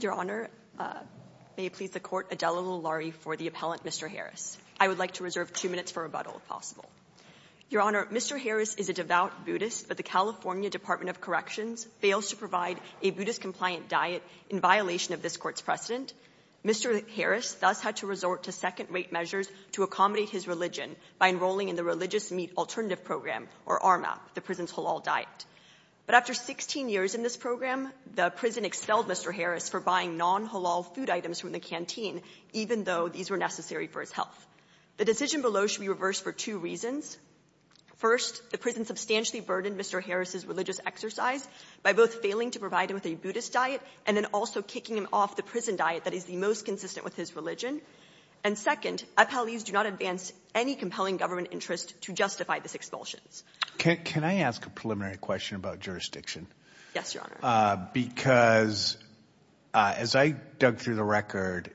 Your Honor, may it please the Court, Adela Lillari for the appellant, Mr. Harris. I would like to reserve two minutes for rebuttal, if possible. Your Honor, Mr. Harris is a devout Buddhist, but the California Department of Corrections fails to provide a Buddhist-compliant diet in violation of this Court's precedent. Mr. Harris thus had to resort to second-rate measures to accommodate his religion by enrolling in the Religious Meat Alternative Program, or RMAP, the prison's halal diet. But after 16 years in this program, the prison expelled Mr. Harris for buying non-halal food items from the canteen, even though these were necessary for his health. The decision below should be reversed for two reasons. First, the prison substantially burdened Mr. Harris's religious exercise by both failing to provide him with a Buddhist diet and then also kicking him off the prison diet that is the most consistent with his religion. And second, appellees do not advance any compelling government interest to justify this expulsion. Can I ask a preliminary question about jurisdiction? Yes, Your Honor. Because as I dug through the record,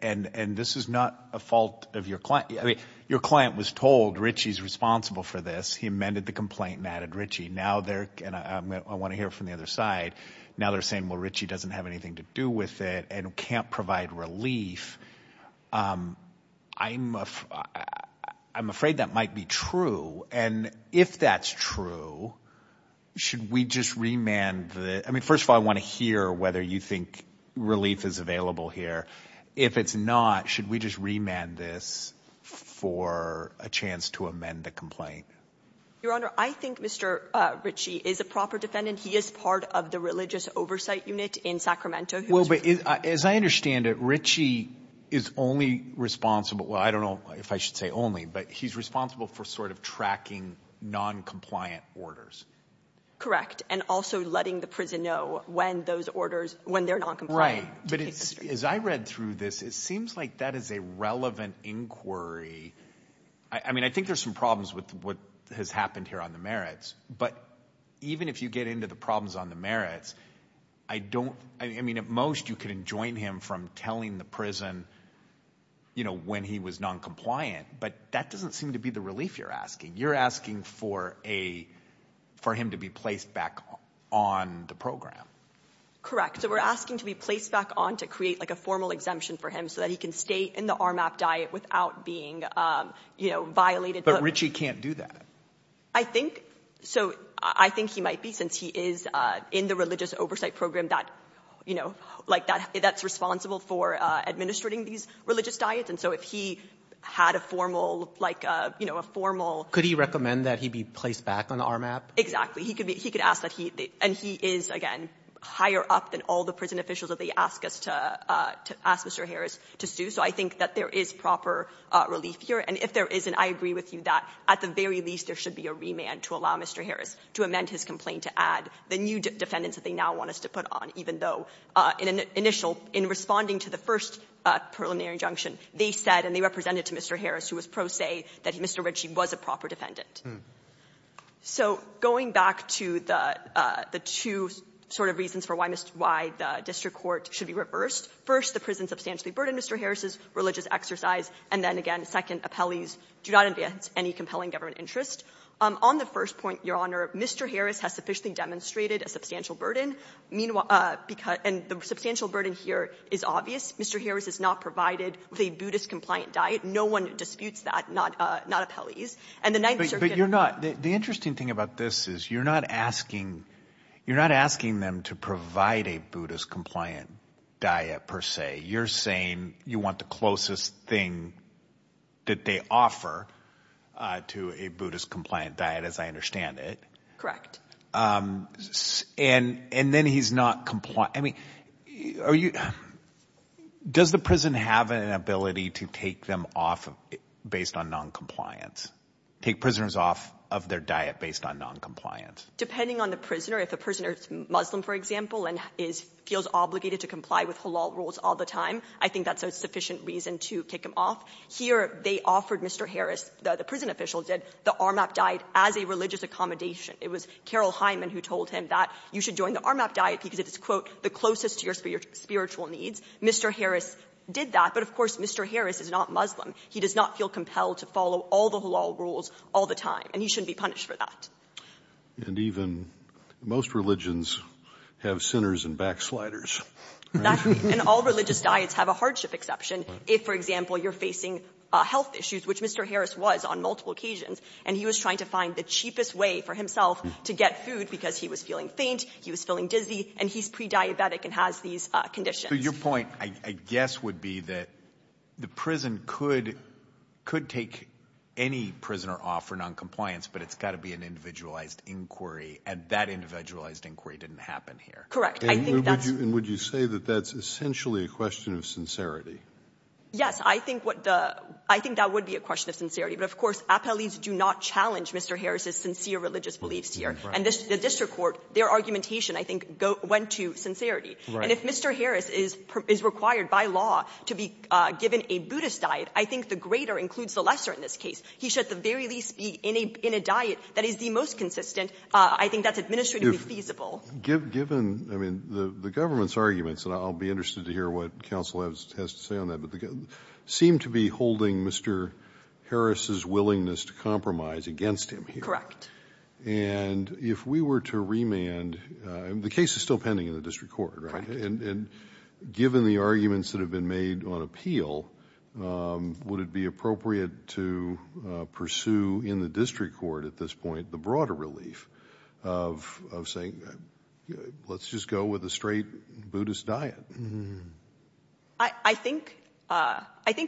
and this is not a fault of your client, I mean, your client was told, Richie's responsible for this. He amended the complaint and added Richie. Now they're, and I want to hear from the other side, now they're saying, well, Richie doesn't have anything to do with it and can't provide relief. I'm afraid that might be true. And if that's true, should we just remand the, I mean, first of all, I want to hear whether you think relief is available here. If it's not, should we just remand this for a chance to amend the complaint? Your Honor, I think Mr. Richie is a proper defendant. He is part of the religious oversight unit in Sacramento. Well, but as I understand it, Richie is only responsible, well, I don't know if I should say only, but he's responsible for sort of tracking noncompliant orders. Correct. And also letting the prison know when those orders, when they're noncompliant. Right. But as I read through this, it seems like that is a relevant inquiry. I mean, I think there's some problems with what has happened here on the merits, but even if you get into the problems on the merits, I don't, I mean, at most you can enjoin him from telling the prison, you know, when he was noncompliant, but that doesn't seem to be the relief you're asking. You're asking for a, for him to be placed back on the program. Correct. So we're asking to be placed back on to create like a formal exemption for him so that he can stay in the RMAP diet without being, you know, violated. But Richie can't do that. I think so. I think he might be since he is in the religious oversight program that, you know, like that, that's responsible for administrating these religious diets. And so if he had a formal, like a, you know, a formal. Could he recommend that he be placed back on the RMAP? Exactly. He could be, he could ask that he, and he is, again, higher up than all the prison officials that they ask us to, to ask Mr. Harris to sue. So I think that there is proper relief here. And if there isn't, I agree with you that at the very least there should be a remand to allow Mr. Harris to amend his complaint, to add the new defendants that they now want us to put on, even though in an initial, in responding to the first preliminary injunction, they said and they represented to Mr. Harris, who was pro se, that Mr. Richie was a proper defendant. So going back to the, the two sort of reasons for why Mr. why the district court should be reversed, first, the prison substantially burdened Mr. Harris's religious exercise, and then again, second, appellees do not advance any compelling government interest. Um, on the first point, Your Honor, Mr. Harris has sufficiently demonstrated a substantial burden. Meanwhile, uh, because, and the substantial burden here is obvious. Mr. Harris is not provided with a Buddhist compliant diet. No one disputes that, not, uh, not appellees. And the Ninth Circuit. But you're not, the interesting thing about this is you're not asking, you're not asking them to provide a Buddhist compliant diet per se. You're saying you want the closest thing that they offer, uh, to a Buddhist compliant diet, as I understand it. Correct. Um, and, and then he's not compliant. I mean, are you, does the prison have an ability to take them off based on noncompliance? Take prisoners off of their diet based on noncompliance? Depending on the prisoner, if a prisoner is Muslim, for example, and is, feels obligated to comply with halal rules all the time, I think that's a sufficient reason to kick him off. Here, they offered Mr. Harris, the prison official did, the ARMAP diet as a religious accommodation. It was Carol Hyman who told him that you should join the ARMAP diet because it is, quote, the closest to your spiritual needs. Mr. Harris did that. But, of course, Mr. Harris is not Muslim. He does not feel compelled to follow all the halal rules all the time. And he shouldn't be punished for that. And even most religions have sinners and backsliders. And all religious diets have a hardship exception. If, for example, you're facing health issues, which Mr. Harris was on multiple occasions, and he was trying to find the cheapest way for himself to get food because he was feeling faint, he was feeling dizzy, and he's pre-diabetic and has these conditions. So your point, I guess, would be that the prison could, could take any prisoner off for noncompliance, but it's got to be an individualized inquiry. And that individualized inquiry didn't happen here. And would you say that that's essentially a question of sincerity? Yes, I think that would be a question of sincerity. But, of course, appellees do not challenge Mr. Harris's sincere religious beliefs here. And the district court, their argumentation, I think, went to sincerity. And if Mr. Harris is required by law to be given a Buddhist diet, I think the greater includes the lesser in this case. He should, at the very least, be in a diet that is the most consistent. I think that's administratively feasible. Given, I mean, the government's arguments, and I'll be interested to hear what counsel has to say on that, but they seem to be holding Mr. Harris's willingness to compromise against him here. Correct. And if we were to remand, the case is still pending in the district court, right? And given the arguments that have been made on appeal, would it be appropriate to pursue in the district court at this point the broader relief of saying, let's just go with a straight Buddhist diet? I think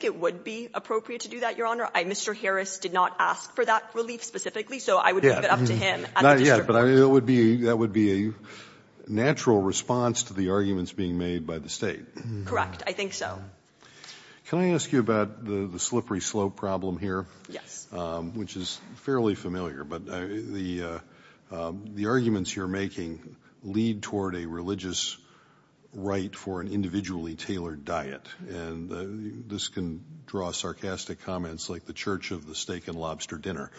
it would be appropriate to do that, Your Honor. Mr. Harris did not ask for that relief specifically, so I would leave it up to him at the district court. That would be a natural response to the arguments being made by the state. Correct. I think so. Can I ask you about the slippery slope problem here? Yes. Which is fairly familiar, but the arguments you're making lead toward a religious right for an individually tailored diet. And this can draw sarcastic comments like the Church of the Steak and Lobster Dinner,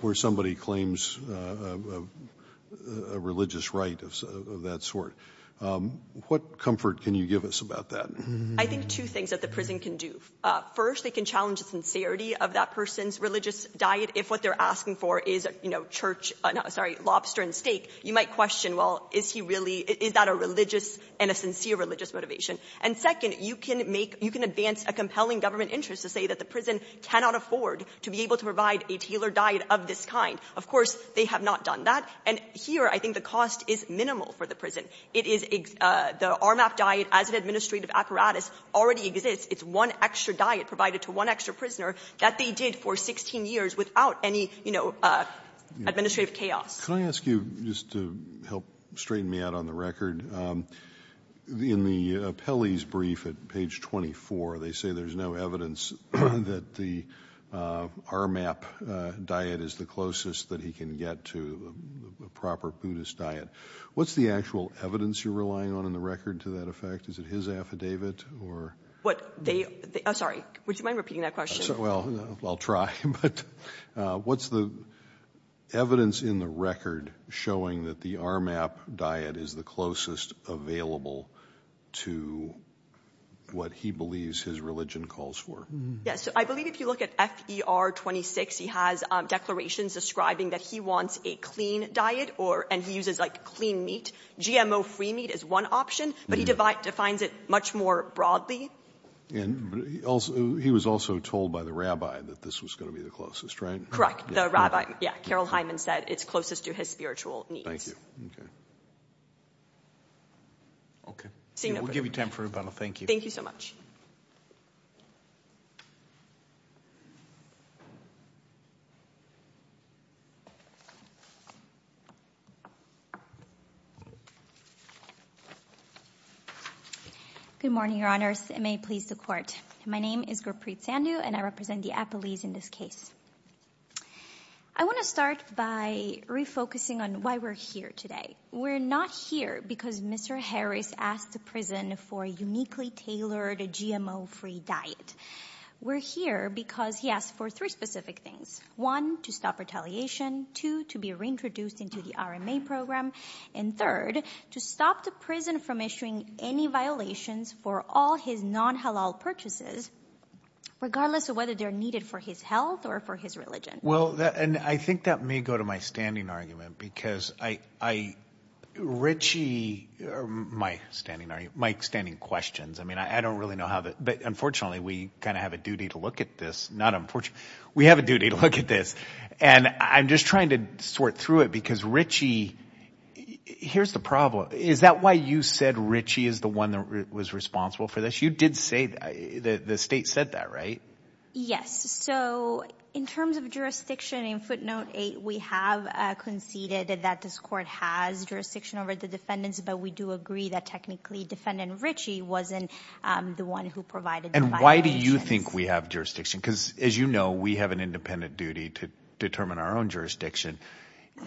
where somebody claims a religious right of that sort. What comfort can you give us about that? I think two things that the prison can do. First, they can challenge the sincerity of that person's religious diet. If what they're asking for is, you know, lobster and steak, you might question, well, is that a religious and a sincere religious motivation? And second, you can advance a compelling government interest to say that the prison cannot afford to be able to provide a tailored diet of this kind. Of course, they have not done that. And here, I think the cost is minimal for the prison. It is the RMAP diet as an administrative apparatus already exists. It's one extra diet provided to one extra prisoner that they did for 16 years without any, you know, administrative chaos. Can I ask you just to help straighten me out on the record? In the appellee's brief at page 24, they say there's no evidence that the RMAP diet is the closest that he can get to a proper Buddhist diet. What's the actual evidence you're relying on in the record to that effect? Is it his affidavit or? What they, sorry, would you mind repeating that question? Well, I'll try. But what's the evidence in the record showing that the RMAP diet is the closest available to what he believes his religion calls for? Yes, I believe if you look at FER 26, he has declarations describing that he wants a clean diet or and he uses like clean meat. GMO free meat is one option, but he defines it much more broadly. And also, he was also told by the rabbi that this was going to be the closest, right? The rabbi. Yeah. Carol Hyman said it's closest to his spiritual needs. Okay. Okay. We'll give you time for rebuttal. Thank you. Thank you so much. Good morning, Your Honors. It may please the court. My name is Gurpreet Sandhu, and I represent the appellees in this case. I want to start by refocusing on why we're here today. We're not here because Mr. Harris asked the prison for a uniquely tailored GMO free diet. We're here because he asked for three specific things. One, to stop retaliation. Two, to be reintroduced into the RMA program. And third, to stop the prison from issuing any violations for all his non-halal purchases, regardless of whether they're needed for his health or for his religion. Well, and I think that may go to my standing argument because Richie, my standing questions. I mean, I don't really know how, but unfortunately, we kind of have a duty to look at this. We have a duty to look at this, and I'm just trying to sort through it because Richie here's the problem. Is that why you said Richie is the one that was responsible for this? You did say that the state said that, right? So in terms of jurisdiction in footnote eight, we have conceded that this court has jurisdiction over the defendants, but we do agree that technically defendant Richie wasn't the one who provided the violations. And why do you think we have jurisdiction? Because as you know, we have an independent duty to determine our own jurisdiction.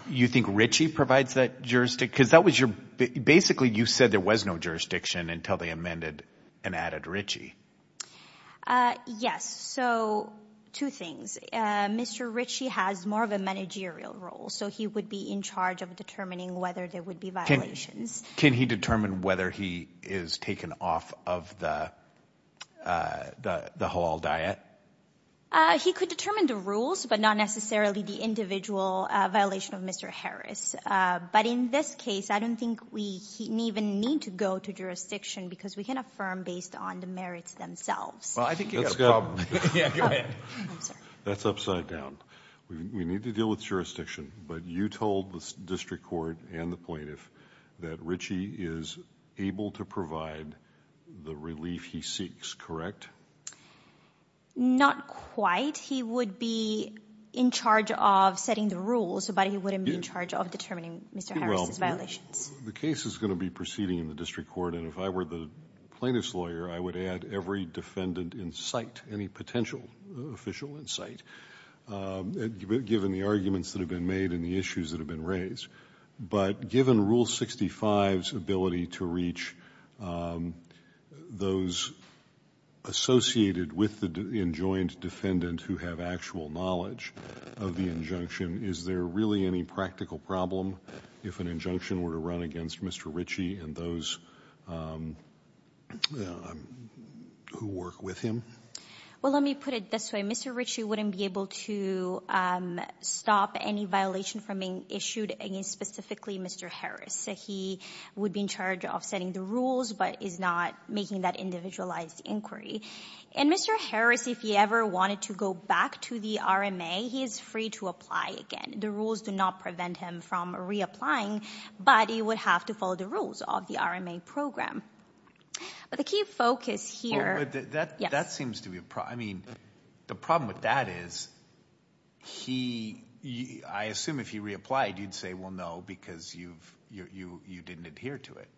You think Richie provides that jurisdiction? Because basically you said there was no jurisdiction until they amended and added Richie. Yes. So two things. Mr. Richie has more of a managerial role. So he would be in charge of determining whether there would be violations. Can he determine whether he is taken off of the halal diet? Uh, he could determine the rules, but not necessarily the individual violation of Mr. But in this case, I don't think we even need to go to jurisdiction because we can affirm based on the merits themselves. Well, I think you got a problem. Yeah, go ahead. That's upside down. We need to deal with jurisdiction. But you told the district court and the plaintiff that Richie is able to provide the relief he seeks, correct? Not quite. He would be in charge of setting the rules, but he wouldn't be in charge of determining Mr. Harris's violations. The case is going to be proceeding in the district court. And if I were the plaintiff's lawyer, I would add every defendant in sight, any potential official in sight, given the arguments that have been made and the issues that have been who have actual knowledge of the injunction, is there really any practical problem if an injunction were to run against Mr. Richie and those who work with him? Well, let me put it this way. Mr. Richie wouldn't be able to stop any violation from being issued against specifically Mr. Harris. He would be in charge of setting the rules, but is not making that individualized inquiry. And Mr. Harris, if he ever wanted to go back to the RMA, he is free to apply again. The rules do not prevent him from reapplying, but he would have to follow the rules of the RMA program. But the key focus here... Well, but that seems to be a problem. I mean, the problem with that is he... I assume if he reapplied, you'd say, well, no, because you didn't adhere to it.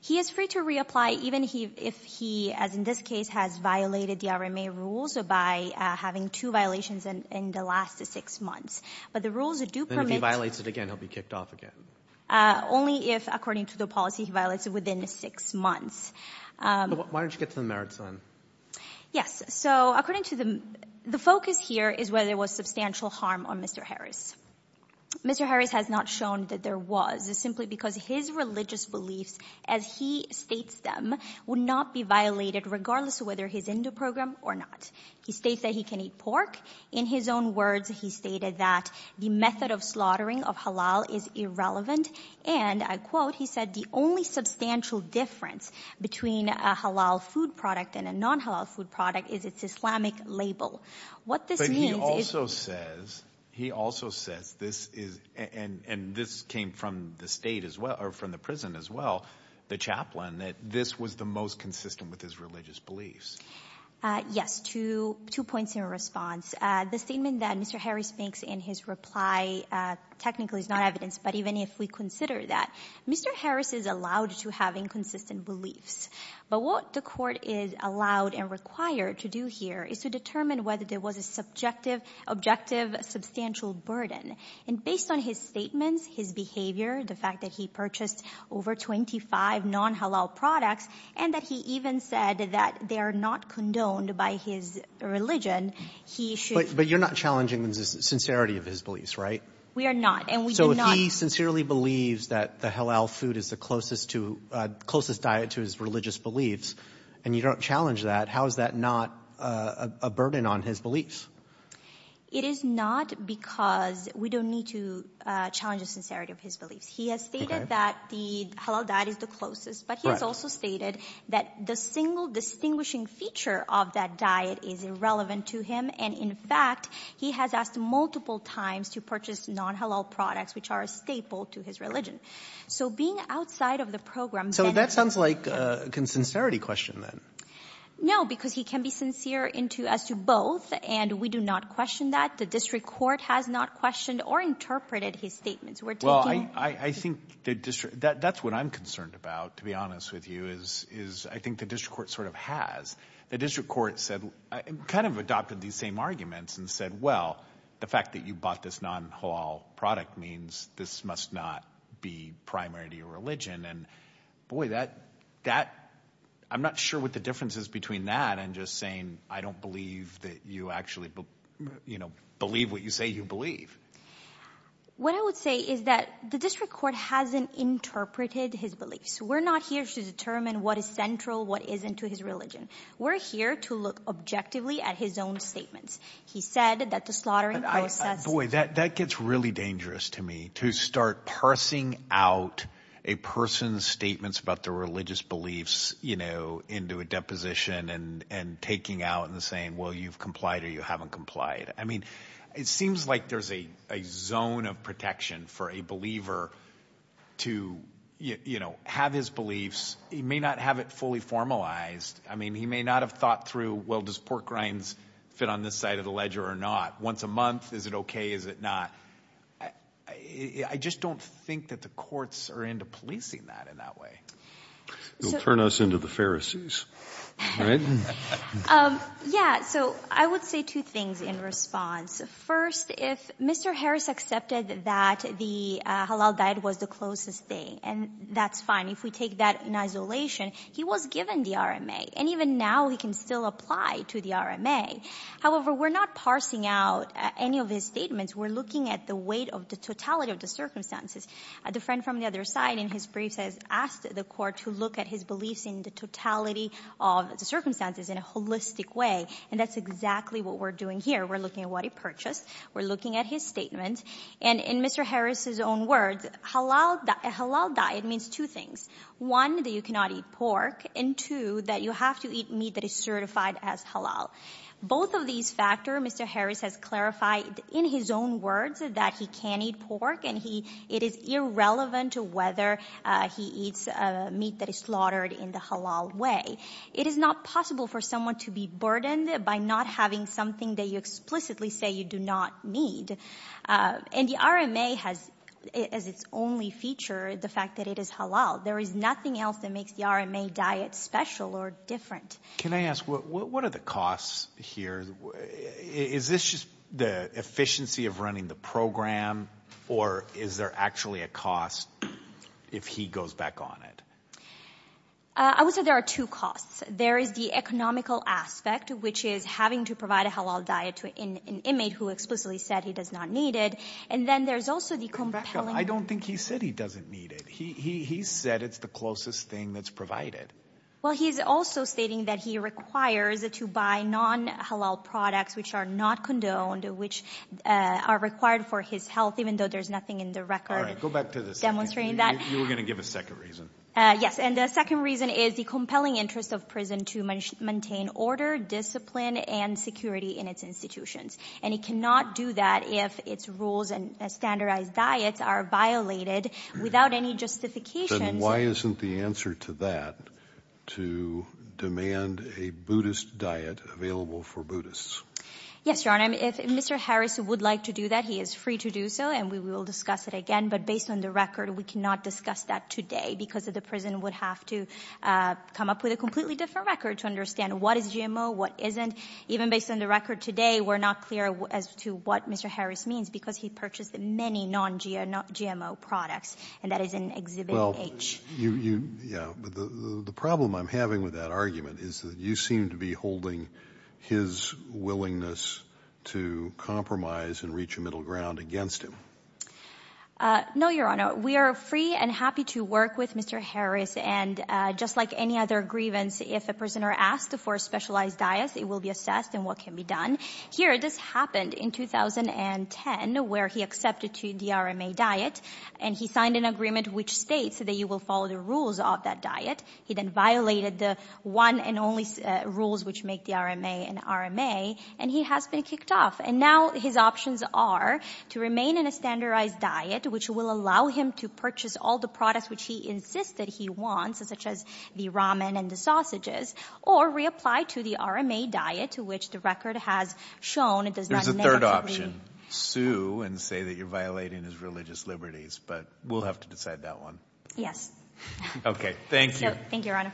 He is free to reapply even if he, as in this case, has violated the RMA rules by having two violations in the last six months. But the rules do permit... And if he violates it again, he'll be kicked off again. Only if, according to the policy, he violates it within six months. Why don't you get to the merits then? Yes. So according to the... The focus here is whether there was substantial harm on Mr. Harris. Mr. Harris has not shown that there was, simply because his religious beliefs, as he states them, would not be violated regardless of whether he's in the program or not. He states that he can eat pork. In his own words, he stated that the method of slaughtering of halal is irrelevant. And I quote, he said, the only substantial difference between a halal food product and a non-halal food product is its Islamic label. What this means is... This is... And this came from the state as well, or from the prison as well, the chaplain, that this was the most consistent with his religious beliefs. Yes. Two points in response. The statement that Mr. Harris makes in his reply technically is not evidence. But even if we consider that, Mr. Harris is allowed to have inconsistent beliefs. But what the court is allowed and required to do here is to determine whether there was objective substantial burden. And based on his statements, his behavior, the fact that he purchased over 25 non-halal products, and that he even said that they are not condoned by his religion, he should... But you're not challenging the sincerity of his beliefs, right? We are not. And we do not... So if he sincerely believes that the halal food is the closest diet to his religious beliefs, and you don't challenge that, how is that not a burden on his beliefs? It is not because we don't need to challenge the sincerity of his beliefs. He has stated that the halal diet is the closest, but he has also stated that the single distinguishing feature of that diet is irrelevant to him. And in fact, he has asked multiple times to purchase non-halal products, which are a staple to his religion. So being outside of the program... So that sounds like a consincerity question then. No, because he can be sincere as to both, and we do not question that. The district court has not questioned or interpreted his statements. We're taking... Well, I think that's what I'm concerned about, to be honest with you, is I think the district court sort of has. The district court kind of adopted these same arguments and said, well, the fact that you bought this non-halal product means this must not be primary to your religion. And boy, I'm not sure what the difference is between that and just saying, I don't believe that you actually believe what you say you believe. What I would say is that the district court hasn't interpreted his beliefs. We're not here to determine what is central, what isn't to his religion. We're here to look objectively at his own statements. He said that the slaughtering process... Boy, that gets really dangerous to me, to start parsing out a person's statements about their religious beliefs into a deposition and taking out and saying, well, you've complied or you haven't complied. I mean, it seems like there's a zone of protection for a believer to have his beliefs. He may not have it fully formalized. I mean, he may not have thought through, well, does pork rinds fit on this side of the ledger or not? Once a month, is it okay? Is it not? I just don't think that the courts are into policing that in that way. It'll turn us into the Pharisees, right? Yeah, so I would say two things in response. First, if Mr. Harris accepted that the halal diet was the closest thing, and that's fine. If we take that in isolation, he was given the RMA. And even now, he can still apply to the RMA. However, we're not parsing out any of his statements. We're looking at the weight of the totality of the circumstances. The friend from the other side, in his briefs, has asked the court to look at his beliefs in the totality of the circumstances in a holistic way. And that's exactly what we're doing here. We're looking at what he purchased. We're looking at his statement. And in Mr. Harris's own words, a halal diet means two things. One, that you cannot eat pork. And two, that you have to eat meat that is certified as halal. Both of these factors, Mr. Harris has clarified in his own words that he can eat pork. And it is irrelevant to whether he eats meat that is slaughtered in the halal way. It is not possible for someone to be burdened by not having something that you explicitly say you do not need. And the RMA has, as its only feature, the fact that it is halal. There is nothing else that makes the RMA diet special or different. Can I ask, what are the costs here? Is this just the efficiency of running the program? Or is there actually a cost if he goes back on it? I would say there are two costs. There is the economical aspect, which is having to provide a halal diet to an inmate who explicitly said he does not need it. And then there's also the compelling... I don't think he said he doesn't need it. He said it's the closest thing that's provided. Well, he's also stating that he requires to buy non-halal products which are not condoned, which are required for his health, even though there's nothing in the record demonstrating that. You were going to give a second reason. Yes. And the second reason is the compelling interest of prison to maintain order, discipline, and security in its institutions. And it cannot do that if its rules and standardized diets are violated without any justification. Why isn't the answer to that to demand a Buddhist diet available for Buddhists? Yes, Your Honor. If Mr. Harris would like to do that, he is free to do so, and we will discuss it again. But based on the record, we cannot discuss that today because the prison would have to come up with a completely different record to understand what is GMO, what isn't. Even based on the record today, we're not clear as to what Mr. Harris means because he purchased many non-GMO products. And that is in Exhibit H. Well, you – yeah. But the problem I'm having with that argument is that you seem to be holding his willingness to compromise and reach a middle ground against him. No, Your Honor. We are free and happy to work with Mr. Harris. And just like any other grievance, if a prisoner asked for a specialized diet, it will be assessed and what can be done. Here, this happened in 2010 where he accepted to the RMA diet, and he signed an agreement which states that you will follow the rules of that diet. He then violated the one and only rules which make the RMA an RMA, and he has been kicked off. And now his options are to remain in a standardized diet, which will allow him to purchase all the products which he insists that he wants, such as the ramen and the sausages, or reapply to the RMA diet to which the record has shown it does not negatively – There's a third option. Sue and say that you're violating his religious liberties. But we'll have to decide that one. Yes. Okay. Thank you. Thank you, Your Honor.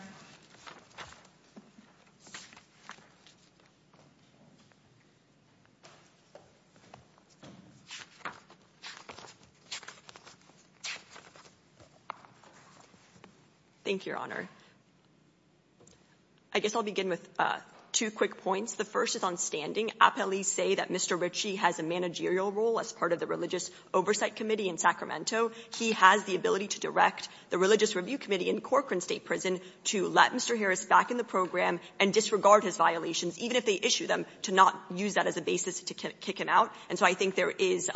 Thank you, Your Honor. I guess I'll begin with two quick points. The first is on standing. Appellees say that Mr. Ritchie has a managerial role as part of the Religious Oversight Committee in Sacramento. He has the ability to direct the Religious Review Committee in Corcoran State Prison to let Mr. Harris back in the program and disregard his violations, even if they issue them, to not use that as a basis to kick him out. And so I think there is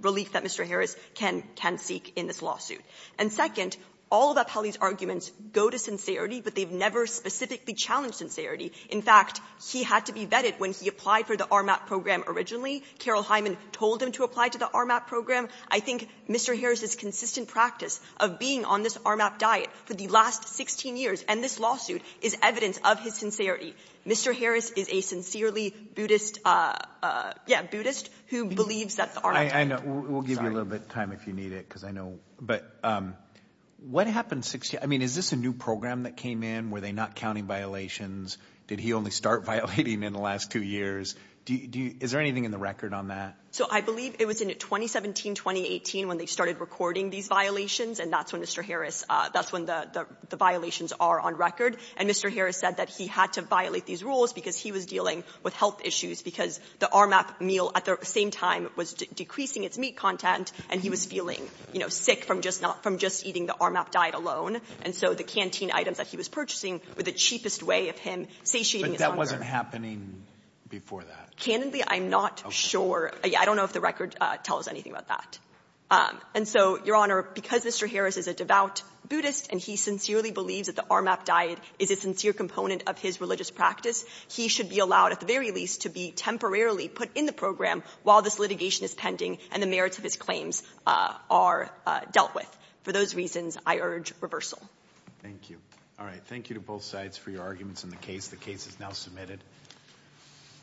relief that Mr. Harris can seek in this lawsuit. And second, all of Appellee's arguments go to sincerity, but they've never specifically challenged sincerity. In fact, he had to be vetted when he applied for the RMAP program originally. Carol Hyman told him to apply to the RMAP program. I think Mr. Harris's consistent practice of being on this RMAP diet for the last 16 years and this lawsuit is evidence of his sincerity. Mr. Harris is a sincerely Buddhist – yeah, Buddhist who believes that the RMAP diet – I know. We'll give you a little bit of time if you need it, because I know – but what happened – I mean, is this a new program that came in? Were they not counting violations? Did he only start violating in the last two years? Is there anything in the record on that? So I believe it was in 2017-2018 when they started recording these violations, and that's when Mr. Harris – that's when the violations are on record. And Mr. Harris said that he had to violate these rules because he was dealing with health issues because the RMAP meal at the same time was decreasing its meat content and he was sick from just eating the RMAP diet alone, and so the canteen items that he was purchasing were the cheapest way of him satiating his hunger. But that wasn't happening before that? Canonically, I'm not sure. I don't know if the record tells anything about that. And so, Your Honor, because Mr. Harris is a devout Buddhist and he sincerely believes that the RMAP diet is a sincere component of his religious practice, he should be allowed, at the very least, to be temporarily put in the program while this litigation is pending and the merits of his claims are dealt with. For those reasons, I urge reversal. Thank you. All right. Thank you to both sides for your arguments in the case. The case is now submitted.